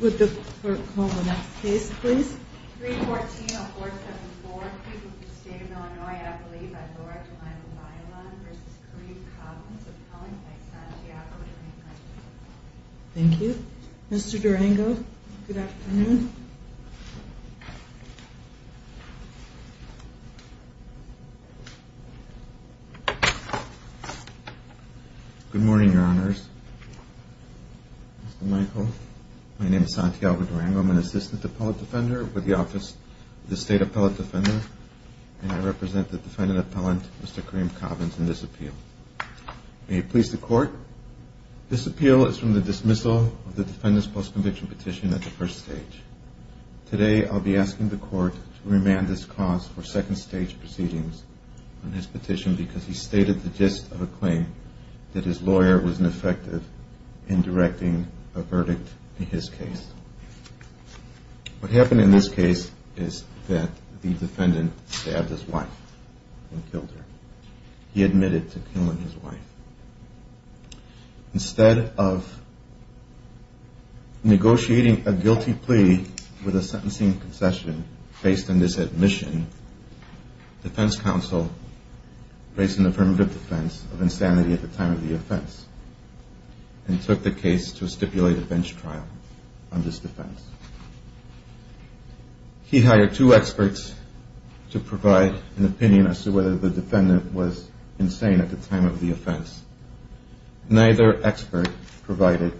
Would the clerk call the next case, please? 314-474, a case of the state of Illinois, I believe, by Lora Durango Bailon v. Kareem Cobbins, appellant by Santiago Durango. Thank you. Mr. Durango, good afternoon. Good morning, Your Honors. Mr. Michael, my name is Santiago Durango. I'm an assistant appellate defender with the Office of the State Appellate Defender, and I represent the defendant appellant, Mr. Kareem Cobbins, in this appeal. May it please the Court, this appeal is from the dismissal of the defendant's post-conviction petition at the first stage. Today, I'll be asking the Court to remand this cause for second-stage proceedings on his petition because he stated the gist of a claim that his lawyer was ineffective in directing a verdict in his case. What happened in this case is that the defendant stabbed his wife and killed her. He admitted to killing his wife. Instead of negotiating a guilty plea with a sentencing concession based on this admission, the defense counsel raised an affirmative defense of insanity at the time of the offense and took the case to a stipulated bench trial on December 6th. He hired two experts to provide an opinion as to whether the defendant was insane at the time of the offense. Neither expert provided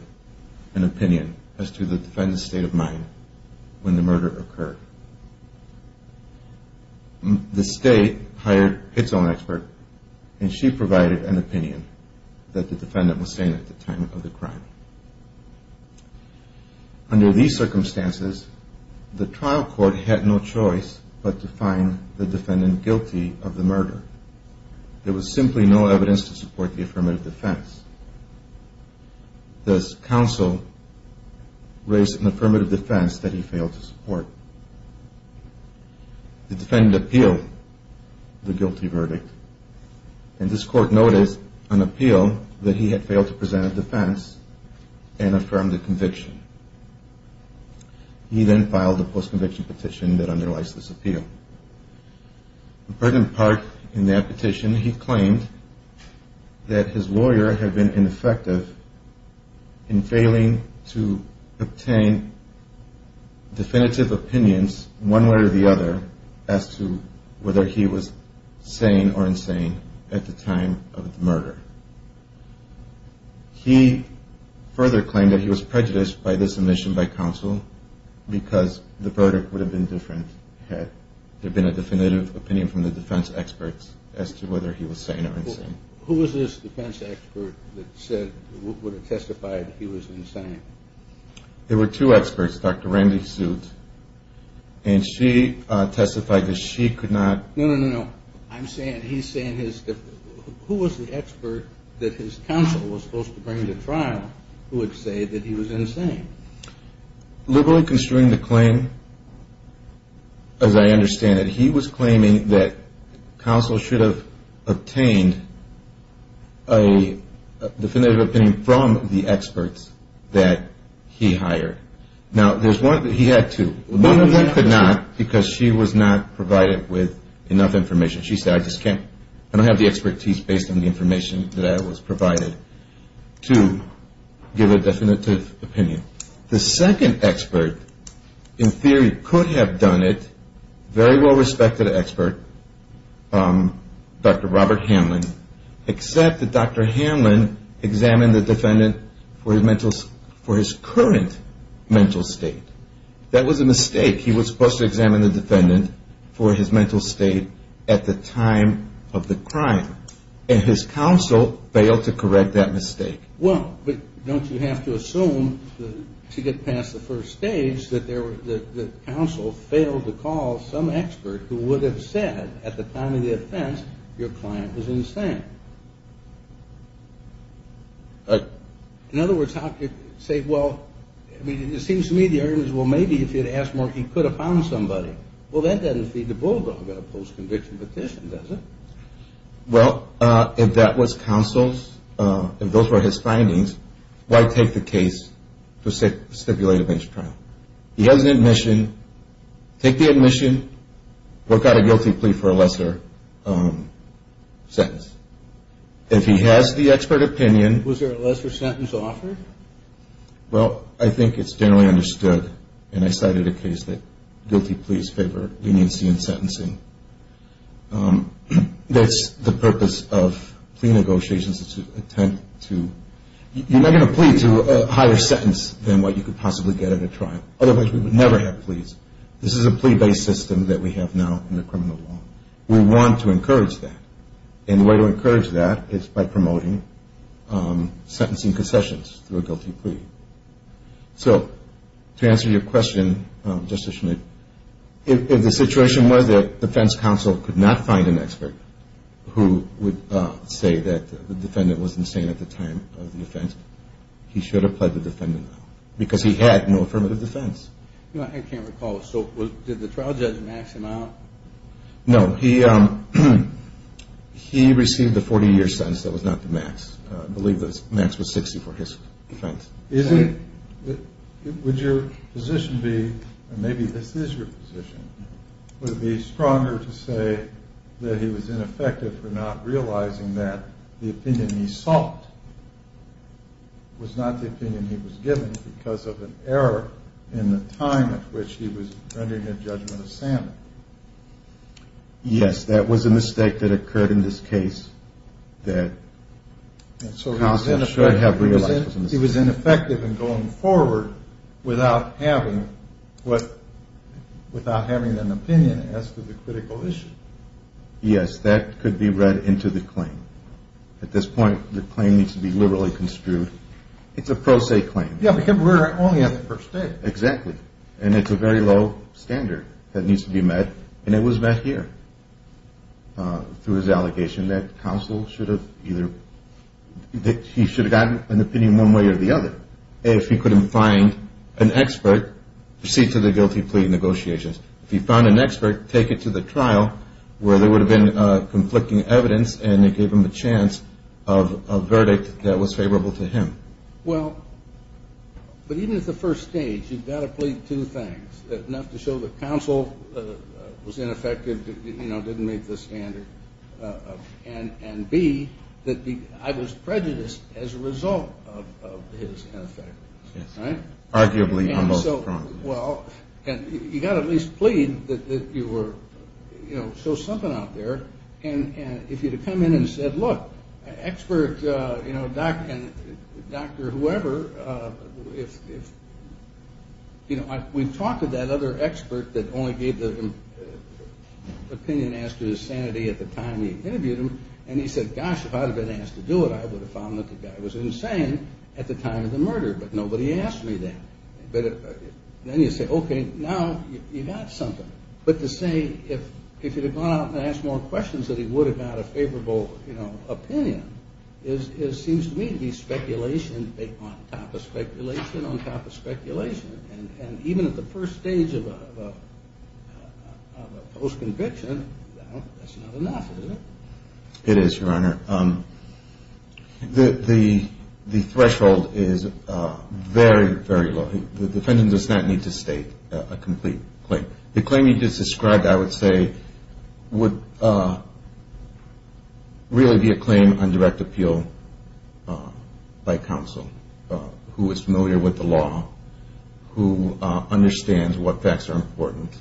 an opinion as to the defendant's state of mind when the murder occurred. The State hired its own expert and she provided an opinion that the defendant was sane at the time of the crime. Under these circumstances, the trial court had no choice but to find the defendant guilty of the murder. There was simply no evidence to support the affirmative defense. Thus, counsel raised an affirmative defense that he failed to support. The defendant appealed the guilty verdict and this court noticed an appeal that he had failed to present a defense and affirmed the conviction. He then filed a post-conviction petition that underlies this appeal. In part in that petition, he claimed that his lawyer had been ineffective in failing to obtain definitive opinions one way or the other as to whether he was sane or insane at the time of the murder. He further claimed that he was prejudiced by this admission by counsel because the verdict would have been different had there been an affirmative defense. In part in that petition, he claimed that his lawyer had been ineffective in failing to obtain definitive opinions one way or the other as to whether he was sane or insane at the time of the murder. He further claimed that he was prejudiced by this admission by counsel because the verdict would have been different had there been an affirmative defense. In part in that petition, he claimed that his lawyer had been ineffective in failing to obtain definitive opinions one way or the other as to whether he was sane or insane at the time of the murder. He further claimed that he was prejudiced by this admission by counsel because the verdict would have been different had there been an affirmative defense. The second expert in theory could have done it, very well-respected expert, Dr. Robert Hanlon, except that Dr. Hanlon examined the defendant for his current mental state. That was a mistake. He was supposed to examine the defendant for his mental state at the time of the crime, and his counsel failed to correct that mistake. Well, but don't you have to assume to get past the first stage that the counsel failed to call some expert who would have said at the time of the offense, your client was insane? In other words, how could you say, well, it seems to me the argument is, well, maybe if he had asked more, he could have found somebody. Well, that doesn't feed the bulldog of a post-conviction petition, does it? Well, if that was counsel's, if those were his findings, why take the case to stipulate a bench trial? He has an admission, take the admission, work out a guilty plea for a lesser sentence. If he has the expert opinion... Was there a lesser sentence offered? Well, I think it's generally understood, and I cited a case that guilty pleas favor leniency in sentencing. That's the purpose of plea negotiations is to attempt to, you're not going to plea to a higher sentence than what you could possibly get at a trial. Otherwise, we would never have pleas. This is a plea-based system that we have now in the criminal law. We want to encourage that, and the way to encourage that is by promoting sentencing concessions through a guilty plea. So, to answer your question, Justice Schmidt, if the situation was that defense counsel could not find an expert who would say that the defendant was insane at the time of the offense, he should have pled the defendant now because he had no affirmative defense. I can't recall. So, did the trial judge max him out? No. He received the 40-year sentence. That was not the max. I believe the max was 60 for his defense. Would your position be, and maybe this is your position, would it be stronger to say that he was ineffective for not realizing that the opinion he sought was not the opinion he was given because of an error in the time at which he was rendering a judgment of sanity? Yes, that was a mistake that occurred in this case that counsel should have realized was a mistake. So, he was ineffective in going forward without having an opinion as to the critical issue. Yes, that could be read into the claim. At this point, the claim needs to be liberally construed. It's a pro se claim. Yeah, because we're only at the first date. Exactly, and it's a very low standard that needs to be met, and it was met here through his allegation that counsel should have either, that he should have gotten an opinion one way or the other. If he couldn't find an expert, proceed to the guilty plea negotiations. If he found an expert, take it to the trial where there would have been conflicting evidence and it gave him a chance of a verdict that was favorable to him. Well, but even at the first stage, you've got to plead two things. Enough to show that counsel was ineffective, didn't meet the standard, and B, that I was prejudiced as a result of his ineffectiveness. Arguably on both fronts. Well, you've got to at least plead that you were, you know, show something out there, and if you'd have come in and said, look, expert, you know, doctor, whoever, if, you know, we've talked to that other expert that only gave the opinion as to his sanity at the time he interviewed him, and he said, gosh, if I'd have been asked to do it, I would have found that the guy was insane at the time of the murder, but nobody asked me that. But then you say, okay, now you've got something. But to say if you'd have gone out and asked more questions that he would have had a favorable, you know, opinion, it seems to me to be speculation on top of speculation on top of speculation, and even at the first stage of a post-conviction, that's not enough, is it? It is, Your Honor. The threshold is very, very low. The defendant does not need to state a complete claim. The claim you just described, I would say, would really be a claim on direct appeal by counsel who is familiar with the law, who understands what facts are important.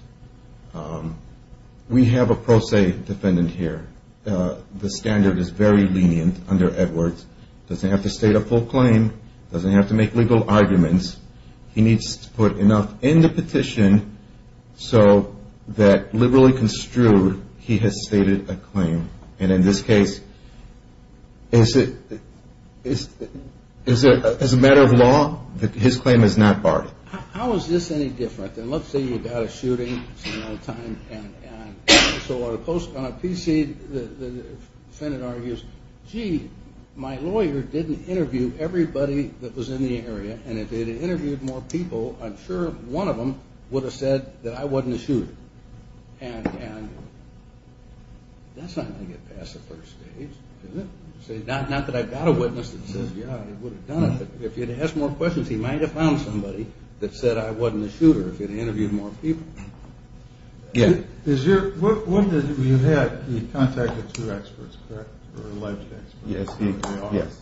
We have a pro se defendant here. The standard is very lenient under Edwards. He doesn't have to state a full claim. He doesn't have to make legal arguments. He needs to put enough in the petition so that, liberally construed, he has stated a claim, and in this case, as a matter of law, his claim is not barred. How is this any different than, let's say, you got a shooting sometime, and so on a PC, the defendant argues, gee, my lawyer didn't interview everybody that was in the area, and if they had interviewed more people, I'm sure one of them would have said that I wasn't a shooter. And that's not going to get past the first stage, is it? Not that I've got a witness that says, yeah, I would have done it, but if he had asked more questions, he might have found somebody that said I wasn't a shooter if he had interviewed more people. You contacted two experts, correct, or alleged experts? Yes.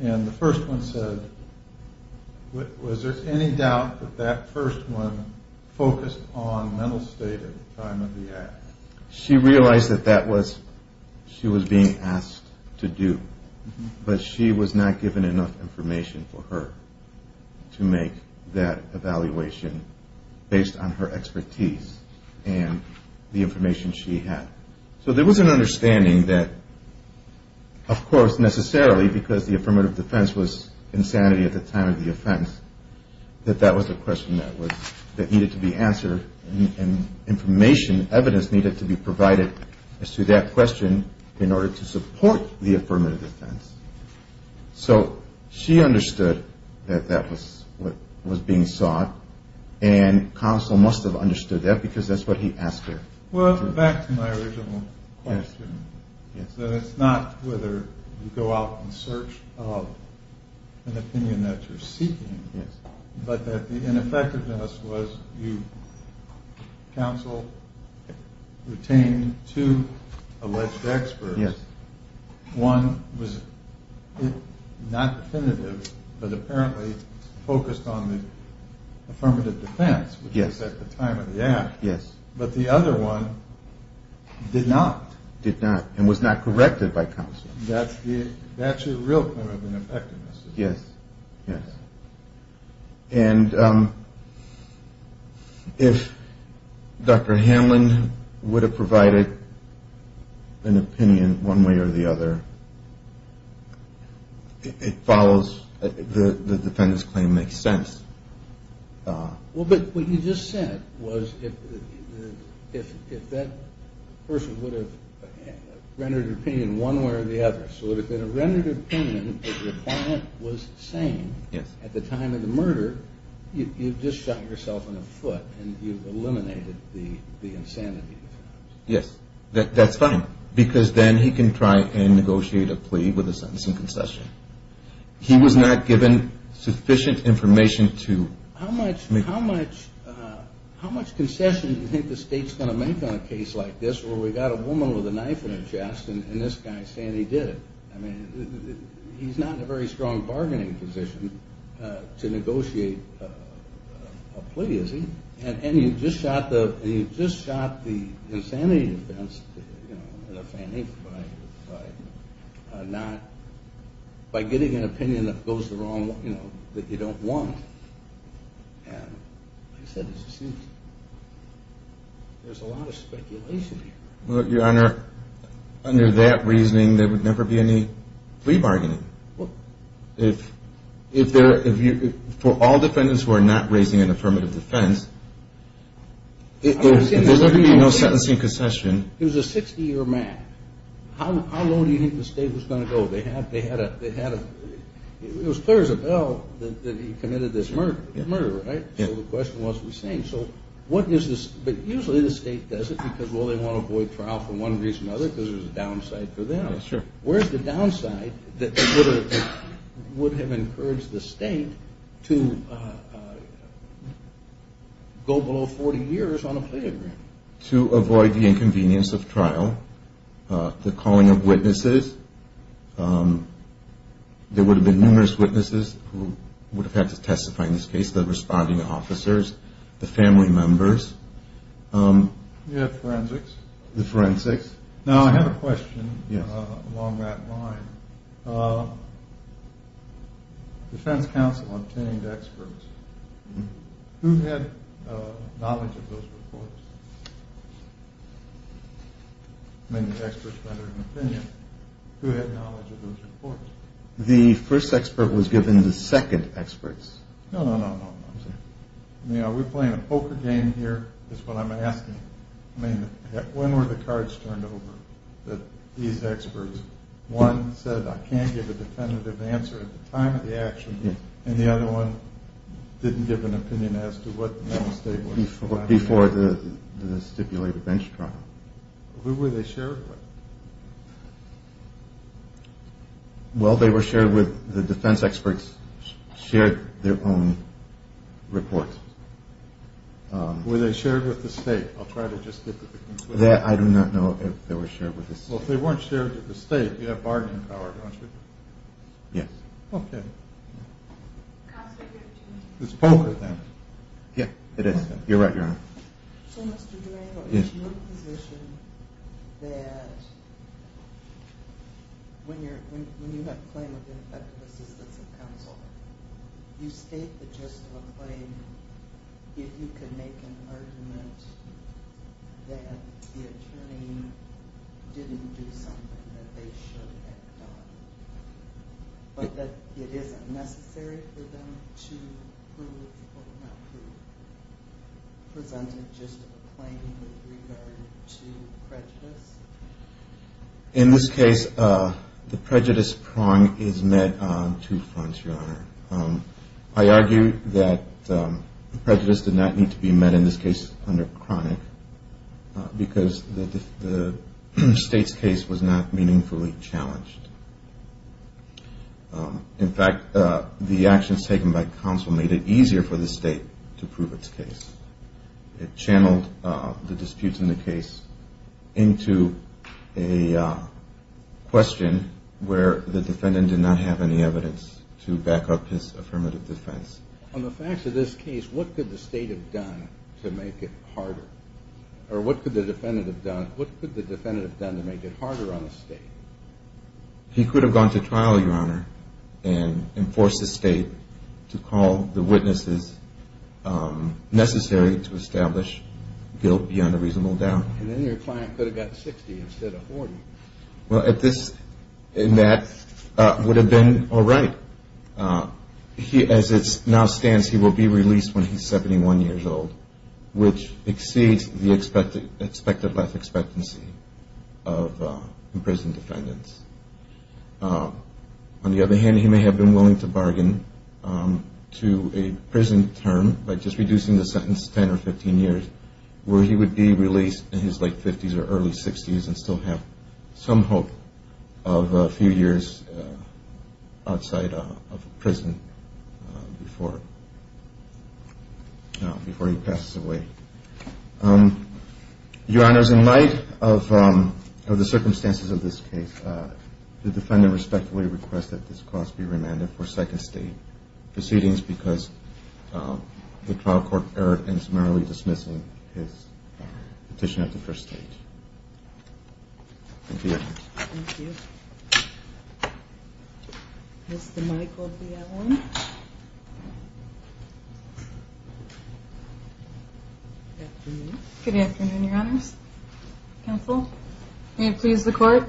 And the first one said, was there any doubt that that first one focused on mental state at the time of the act? She realized that that was what she was being asked to do, but she was not given enough information for her to make that evaluation based on her expertise and the information she had. So there was an understanding that, of course, necessarily because the affirmative defense was insanity at the time of the offense, that that was a question that needed to be answered, and information, evidence needed to be provided as to that question in order to support the affirmative defense. So she understood that that was what was being sought, and counsel must have understood that because that's what he asked her. Well, back to my original question, that it's not whether you go out in search of an opinion that you're seeking, but that the ineffectiveness was you, counsel, retained two alleged experts. Yes. One was not definitive, but apparently focused on the affirmative defense, which was at the time of the act. Yes. But the other one did not. Did not, and was not corrected by counsel. That's your real claim of ineffectiveness. Yes, yes. And if Dr. Hanlon would have provided an opinion one way or the other, it follows the defendant's claim makes sense. Well, but what you just said was if that person would have rendered an opinion one way or the other, so if in a rendered opinion that your client was sane at the time of the murder, you've just shot yourself in the foot, and you've eliminated the insanity. Yes, that's fine, because then he can try and negotiate a plea with a sentence and concession. He was not given sufficient information to make. How much concession do you think the state's going to make on a case like this where we've got a woman with a knife in her chest and this guy saying he did it? I mean, he's not in a very strong bargaining position to negotiate a plea, is he? And you just shot the insanity defense, you know, in a fanny by getting an opinion that goes the wrong way, you know, that you don't want. And like I said, there's a lot of speculation here. Well, Your Honor, under that reasoning, there would never be any plea bargaining. If there are – for all defendants who are not raising an affirmative defense, there's going to be no sentencing concession. He was a 60-year man. How long do you think the state was going to go? They had a – it was clear as a bell that he committed this murder, right? So the question was, we're saying, so what is this – but usually the state does it because, well, they want to avoid trial for one reason or another because there's a downside for them. Where's the downside that would have encouraged the state to go below 40 years on a plea agreement? To avoid the inconvenience of trial, the calling of witnesses. There would have been numerous witnesses who would have had to testify in this case, the responding officers, the family members. You had forensics. The forensics. Now, I have a question along that line. Defense counsel obtained experts. Who had knowledge of those reports? I mean, the experts rendered an opinion. Who had knowledge of those reports? The first expert was given to second experts. No, no, no, no. I'm sorry. I mean, are we playing a poker game here is what I'm asking. I mean, when were the cards turned over that these experts – one said, I can't give a definitive answer at the time of the action, and the other one didn't give an opinion as to what the state was going to do. Before the stipulated bench trial. Who were they shared with? Well, they were shared with – the defense experts shared their own reports. Were they shared with the state? I'll try to just get to the conclusion. I do not know if they were shared with the state. Well, if they weren't shared with the state, you have bargaining power, don't you? Yes. Okay. It's poker then. Yeah, it is. You're right, Your Honor. So, Mr. Durango, is your position that when you have a claim of ineffective assistance of counsel, you state the gist of a claim if you can make an argument that the attorney didn't do something that they should have done, but that it isn't necessary for them to prove or not prove, presented just a claim with regard to prejudice? In this case, the prejudice prong is met on two fronts, Your Honor. I argue that prejudice did not need to be met in this case under chronic because the state's case was not meaningfully challenged. In fact, the actions taken by counsel made it easier for the state to prove its case. It channeled the disputes in the case into a question where the defendant did not have any evidence to back up his affirmative defense. On the facts of this case, what could the state have done to make it harder? Or what could the defendant have done to make it harder on the state? He could have gone to trial, Your Honor, and enforced the state to call the witnesses necessary to establish guilt beyond a reasonable doubt. And then your client could have gotten 60 instead of 40. Well, this and that would have been all right. As it now stands, he will be released when he's 71 years old, which exceeds the expected life expectancy of imprisoned defendants. On the other hand, he may have been willing to bargain to a prison term by just reducing the sentence to 10 or 15 years, where he would be released in his late 50s or early 60s and still have some hope of a few years outside of prison before he passes away. Your Honor, in light of the circumstances of this case, the defendant respectfully requests that this cause be remanded for second state proceedings because the trial court error in summarily dismissing his petition at the first stage. Thank you, Your Honor. Thank you. Mr. Michael D. Allen. Good afternoon. Good afternoon, Your Honors. Counsel, may it please the Court?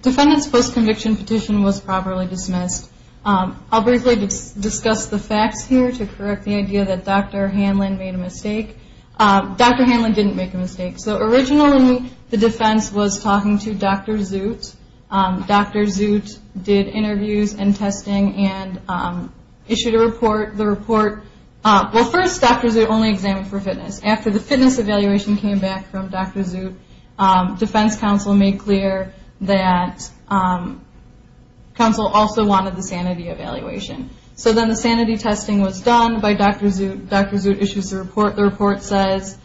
Defendant's post-conviction petition was properly dismissed. I'll briefly discuss the facts here to correct the idea that Dr. Hanlon made a mistake. Dr. Hanlon didn't make a mistake. Originally, the defense was talking to Dr. Zoot. Dr. Zoot did interviews and testing and issued a report. The report, well, first, Dr. Zoot only examined for fitness. After the fitness evaluation came back from Dr. Zoot, defense counsel made clear that counsel also wanted the sanity evaluation. So then the sanity testing was done by Dr. Zoot. Dr. Zoot issues the report. The report says,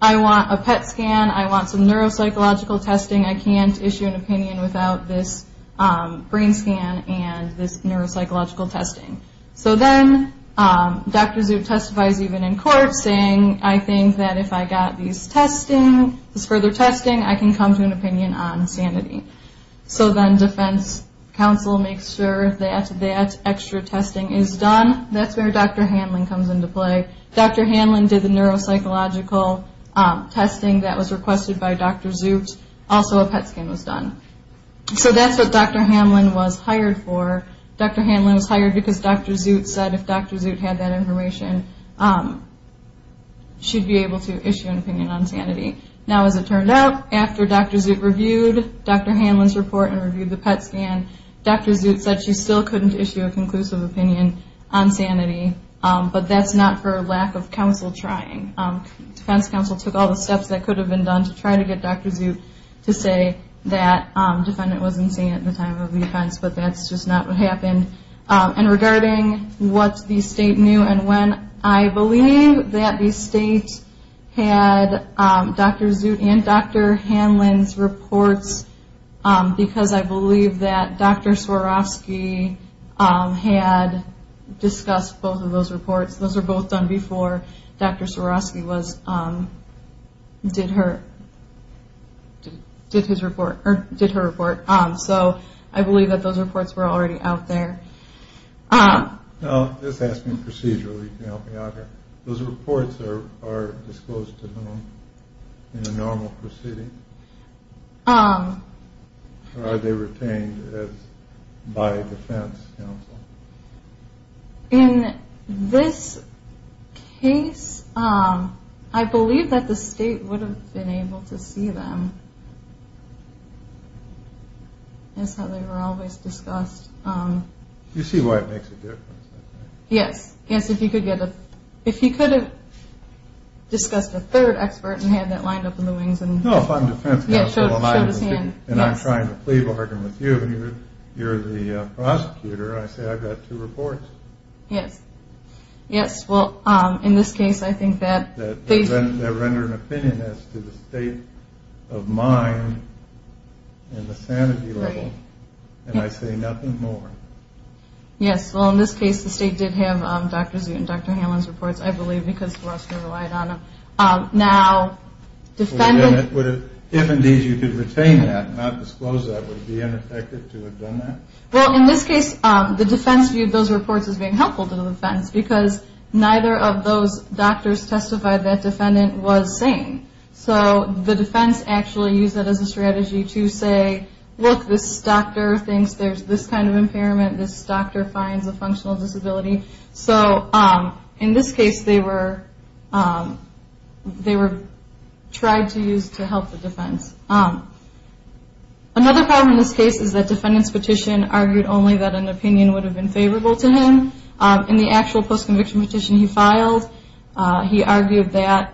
I want a PET scan. I want some neuropsychological testing. I can't issue an opinion without this brain scan and this neuropsychological testing. So then Dr. Zoot testifies even in court saying, I think that if I got this further testing, I can come to an opinion on sanity. So then defense counsel makes sure that that extra testing is done. That's where Dr. Hanlon comes into play. Dr. Hanlon did the neuropsychological testing that was requested by Dr. Zoot. Also, a PET scan was done. So that's what Dr. Hanlon was hired for. Dr. Hanlon was hired because Dr. Zoot said if Dr. Zoot had that information, she'd be able to issue an opinion on sanity. Now, as it turned out, after Dr. Zoot reviewed Dr. Hanlon's report and reviewed the PET scan, Dr. Zoot said she still couldn't issue a conclusive opinion on sanity. But that's not for lack of counsel trying. Defense counsel took all the steps that could have been done to try to get Dr. Zoot to say that defendant wasn't sane at the time of the offense. But that's just not what happened. And regarding what the state knew and when, I believe that the state had Dr. Zoot and Dr. Hanlon's reports because I believe that Dr. Swarovski had discussed both of those reports. Those were both done before Dr. Swarovski did her report. So I believe that those reports were already out there. Now, this asks me procedurally to help me out here. Those reports are disclosed to whom in a normal proceeding? Or are they retained by defense counsel? In this case, I believe that the state would have been able to see them. That's how they were always discussed. Do you see why it makes a difference? Yes. Yes, if he could have discussed a third expert and had that lined up in the wings. No, if I'm defense counsel and I'm trying to plea bargain with you, and you're the prosecutor, I say I've got two reports. Yes. Yes, well, in this case, I think that... That render an opinion as to the state of mind and the sanity level. And I say nothing more. Yes, well, in this case, the state did have Dr. Zoot and Dr. Hanlon's reports, I believe, because Swarovski relied on them. Now, defendants... Well, in this case, the defense viewed those reports as being helpful to the defense because neither of those doctors testified that defendant was sane. So the defense actually used that as a strategy to say, look, this doctor thinks there's this kind of impairment. This doctor finds a functional disability. So in this case, they were tried to use to help the defense. Another problem in this case is that defendants' petition argued only that an opinion would have been favorable to him. In the actual post-conviction petition he filed, he argued that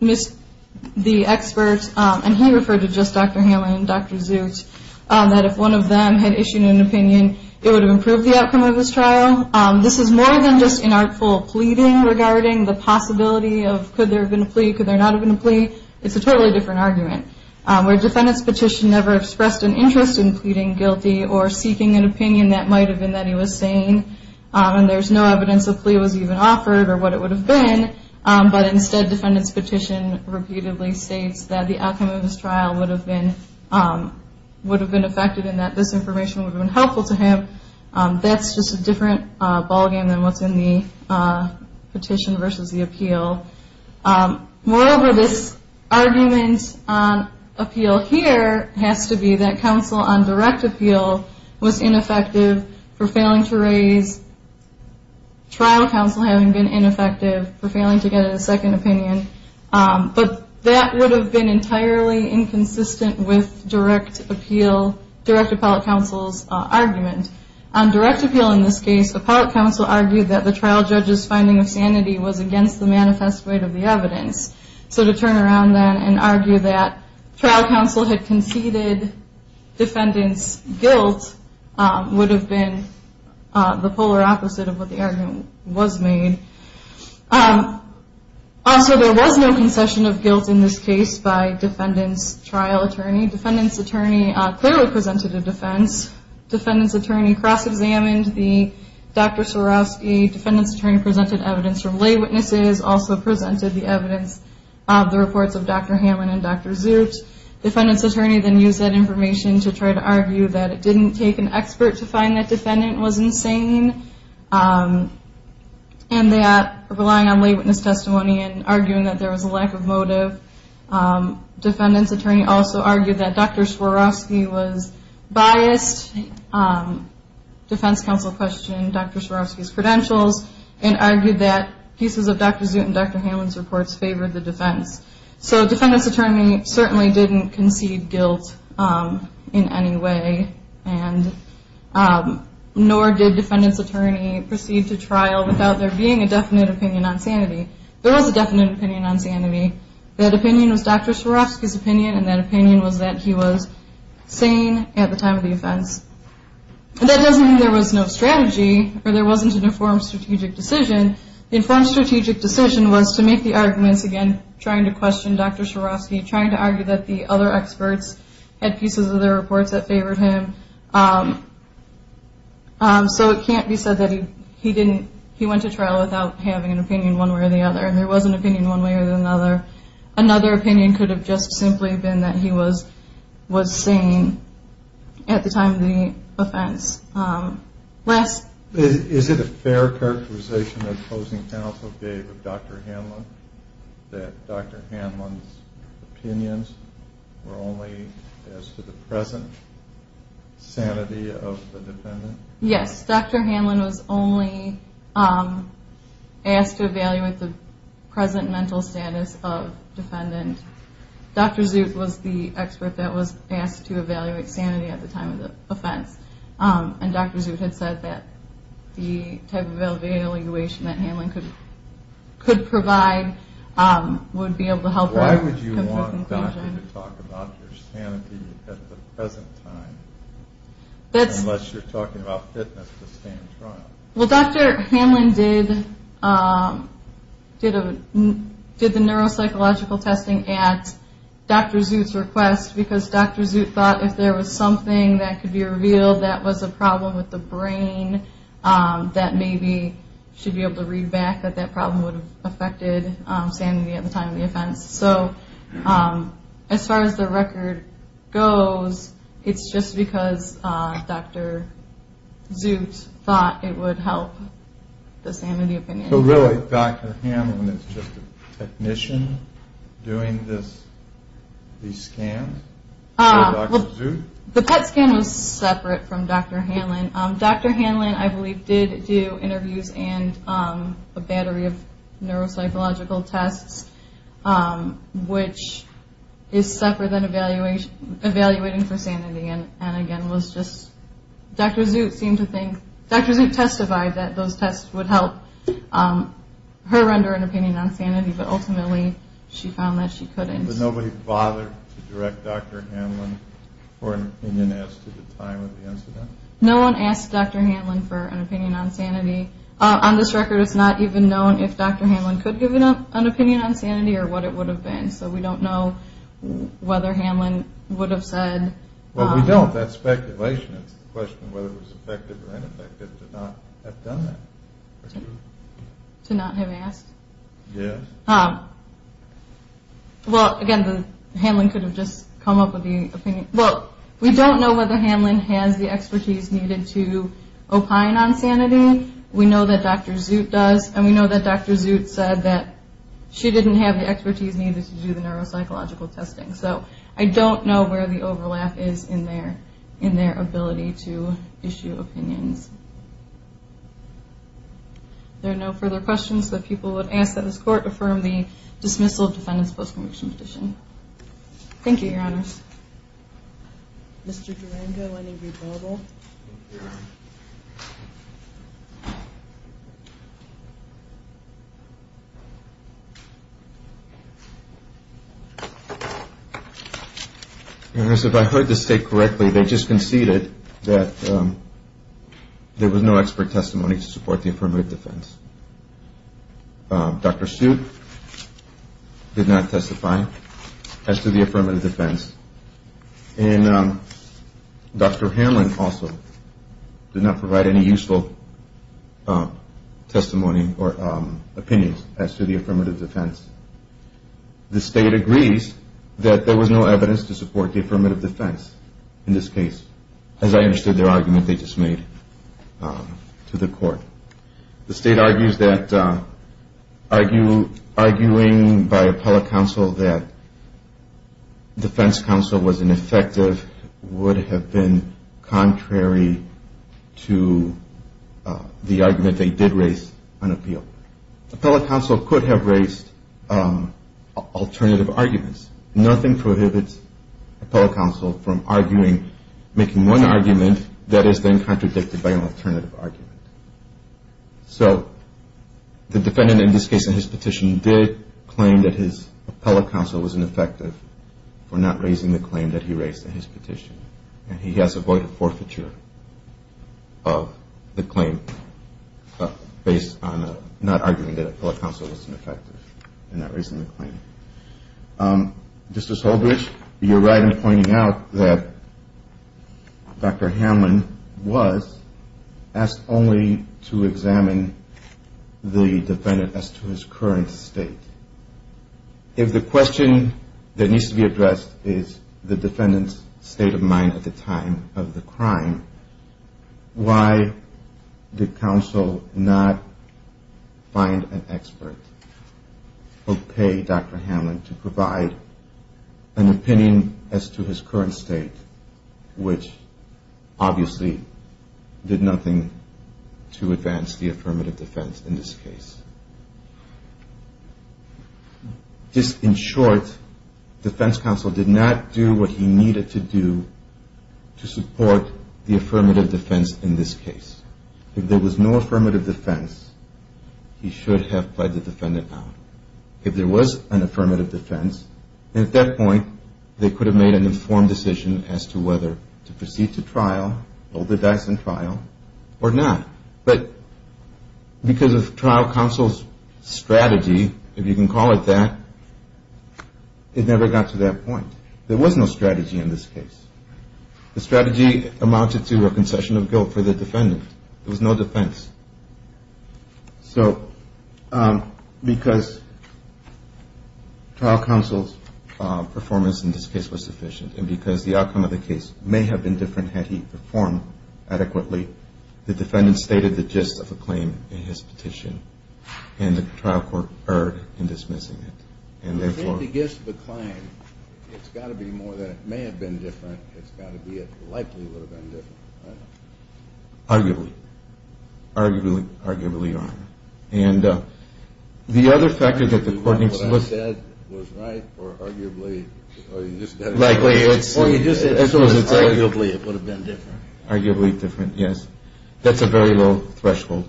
the expert, and he referred to just Dr. Hanlon and Dr. Zoot, that if one of them had issued an opinion, it would have improved the outcome of his trial. This is more than just inartful pleading regarding the possibility of could there have been a plea, could there not have been a plea. It's a totally different argument. Where defendants' petition never expressed an interest in pleading guilty or seeking an opinion that might have been that he was sane, and there's no evidence a plea was even offered or what it would have been, but instead defendants' petition repeatedly states that the outcome of his trial would have been effective and that this information would have been helpful to him, that's just a different ballgame than what's in the petition versus the appeal. Moreover, this argument on appeal here has to be that counsel on direct appeal was ineffective for failing to raise trial counsel having been ineffective for failing to get a second opinion, but that would have been entirely inconsistent with direct appellate counsel's argument. On direct appeal in this case, appellate counsel argued that the trial judge's finding of sanity was against the manifest weight of the evidence. So to turn around then and argue that trial counsel had conceded defendants' guilt would have been the polar opposite of what the argument was made. Also, there was no concession of guilt in this case by defendants' trial attorney. Defendants' attorney clearly presented a defense. Defendants' attorney cross-examined the Dr. Swarovski. Defendants' attorney presented evidence from lay witnesses, also presented the evidence of the reports of Dr. Hammond and Dr. Zoot. Defendants' attorney then used that information to try to argue that it didn't take an expert to find that defendant was insane and that relying on lay witness testimony and arguing that there was a lack of motive. Defendants' attorney also argued that Dr. Swarovski was biased. Defense counsel questioned Dr. Swarovski's credentials and argued that pieces of Dr. Zoot and Dr. Hammond's reports favored the defense. So defendants' attorney certainly didn't concede guilt in any way, and nor did defendants' attorney proceed to trial without there being a definite opinion on sanity. There was a definite opinion on sanity. That opinion was Dr. Swarovski's opinion, and that opinion was that he was sane at the time of the offense. And that doesn't mean there was no strategy or there wasn't an informed strategic decision. The informed strategic decision was to make the arguments again, trying to question Dr. Swarovski, trying to argue that the other experts had pieces of their reports that favored him. So it can't be said that he went to trial without having an opinion one way or the other, and there was an opinion one way or another. Another opinion could have just simply been that he was sane at the time of the offense. Is it a fair characterization that the opposing counsel gave of Dr. Hammond, that Dr. Hammond's opinions were only as to the present sanity of the defendant? Yes, Dr. Hammond was only asked to evaluate the present mental status of defendant. Dr. Zut was the expert that was asked to evaluate sanity at the time of the offense, and Dr. Zut had said that the type of evaluation that Hammond could provide would be able to help her come to a conclusion. Why would you want Dr. Zut to talk about your sanity at the present time, unless you're talking about fitness to stand trial? Well, Dr. Hammond did the neuropsychological testing at Dr. Zut's request, because Dr. Zut thought if there was something that could be revealed that was a problem with the brain, that maybe she'd be able to read back that that problem would have affected sanity at the time of the offense. So as far as the record goes, it's just because Dr. Zut thought it would help the sanity of the defendant. So really, Dr. Hammond is just a technician doing these scans for Dr. Zut? The PET scan was separate from Dr. Hammond. Dr. Hammond, I believe, did do interviews and a battery of neuropsychological tests, which is separate than evaluating for sanity. Dr. Zut testified that those tests would help her render an opinion on sanity, but ultimately she found that she couldn't. But nobody bothered to direct Dr. Hammond for an opinion as to the time of the incident? No one asked Dr. Hammond for an opinion on sanity. On this record, it's not even known if Dr. Hammond could give an opinion on sanity or what it would have been. So we don't know whether Hammond would have said... Well, we don't. That's speculation. It's a question of whether it was effective or ineffective to not have done that. To not have asked? Yes. Well, again, Hammond could have just come up with the opinion. Well, we don't know whether Hammond has the expertise needed to opine on sanity. We know that Dr. Zut does, and we know that Dr. Zut said that she didn't have the expertise needed to do the neuropsychological testing. So I don't know where the overlap is in their ability to issue opinions. If there are no further questions, the people would ask that this Court affirm the dismissal of defendants' post-conviction petition. Thank you, Your Honors. Mr. Durango, any rebuttal? Your Honors, if I heard this state correctly, they just conceded that there was no expert testimony to support the affirmative defense. Dr. Zut did not testify as to the affirmative defense, and Dr. Hammond also did not provide any useful testimony or opinions as to the affirmative defense. The state agrees that there was no evidence to support the affirmative defense in this case, as I understood their argument they just made to the Court. The state argues that arguing by appellate counsel that defense counsel was ineffective would have been contrary to the argument they did raise on appeal. Appellate counsel could have raised alternative arguments. Nothing prohibits appellate counsel from arguing, making one argument that is then contradicted by an alternative argument. So the defendant in this case in his petition did claim that his appellate counsel was ineffective for not raising the claim that he raised in his petition, and he has avoided forfeiture of the claim based on not arguing that appellate counsel was ineffective in not raising the claim. Justice Holbrooke, you're right in pointing out that Dr. Hammond was asked only to examine the defendant as to his current state. If the question that needs to be addressed is the defendant's state of mind at the time of the crime, why did counsel not find an expert or pay Dr. Hammond to provide an opinion as to his current state, which obviously did nothing to advance the affirmative defense in this case? Just in short, defense counsel did not do what he needed to do to support the affirmative defense in this case. If there was no affirmative defense, he should have pled the defendant out. If there was an affirmative defense, at that point they could have made an informed decision as to whether to proceed to trial, hold the dice in trial, or not. But because of trial counsel's strategy, if you can call it that, it never got to that point. There was no strategy in this case. The strategy amounted to a concession of guilt for the defendant. There was no defense. So because trial counsel's performance in this case was sufficient, and because the outcome of the case may have been different had he performed adequately, the defendant stated the gist of the claim in his petition, and the trial court erred in dismissing it. If he gives the claim, it's got to be more than it may have been different. It's got to be it likely would have been different, right? Arguably. Arguably, Your Honor. And the other factor that the court needs to look at... Was what I said was right, or arguably... Arguably it would have been different. Arguably different, yes. That's a very low threshold.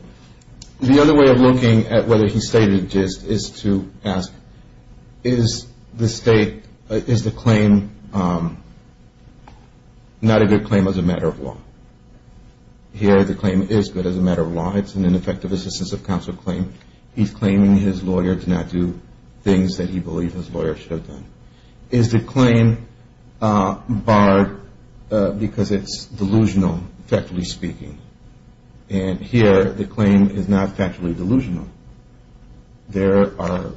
The other way of looking at whether he stated a gist is to ask, is the state, is the claim not a good claim as a matter of law? Here the claim is good as a matter of law. It's an ineffective assistance of counsel claim. He's claiming his lawyer did not do things that he believes his lawyer should have done. Is the claim barred because it's delusional, factually speaking? And here the claim is not factually delusional. There are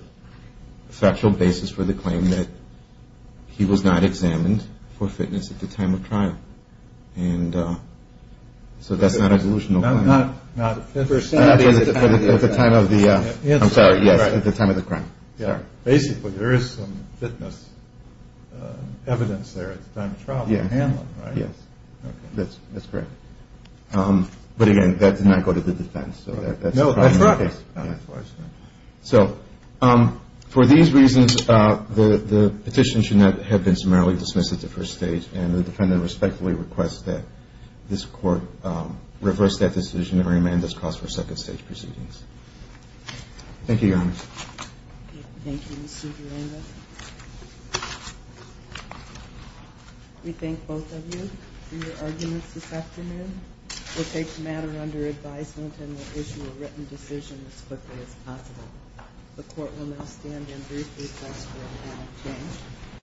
factual basis for the claim that he was not examined for fitness at the time of trial. And so that's not a delusional claim. Not at the time of the crime. I'm sorry, yes, at the time of the crime. Basically there is some fitness evidence there at the time of the trial to handle it, right? Yes, that's correct. But again, that did not go to the defense. No, that's correct. So for these reasons, the petition should not have been summarily dismissed at the first stage, and the defendant respectfully requests that this court reverse that decision and remand this cause for second stage proceedings. Thank you, Your Honor. Thank you, Mr. Durango. We thank both of you for your arguments this afternoon. We'll take the matter under advisement and we'll issue a written decision as quickly as possible. The court will now stand and briefly request for a moment of silence.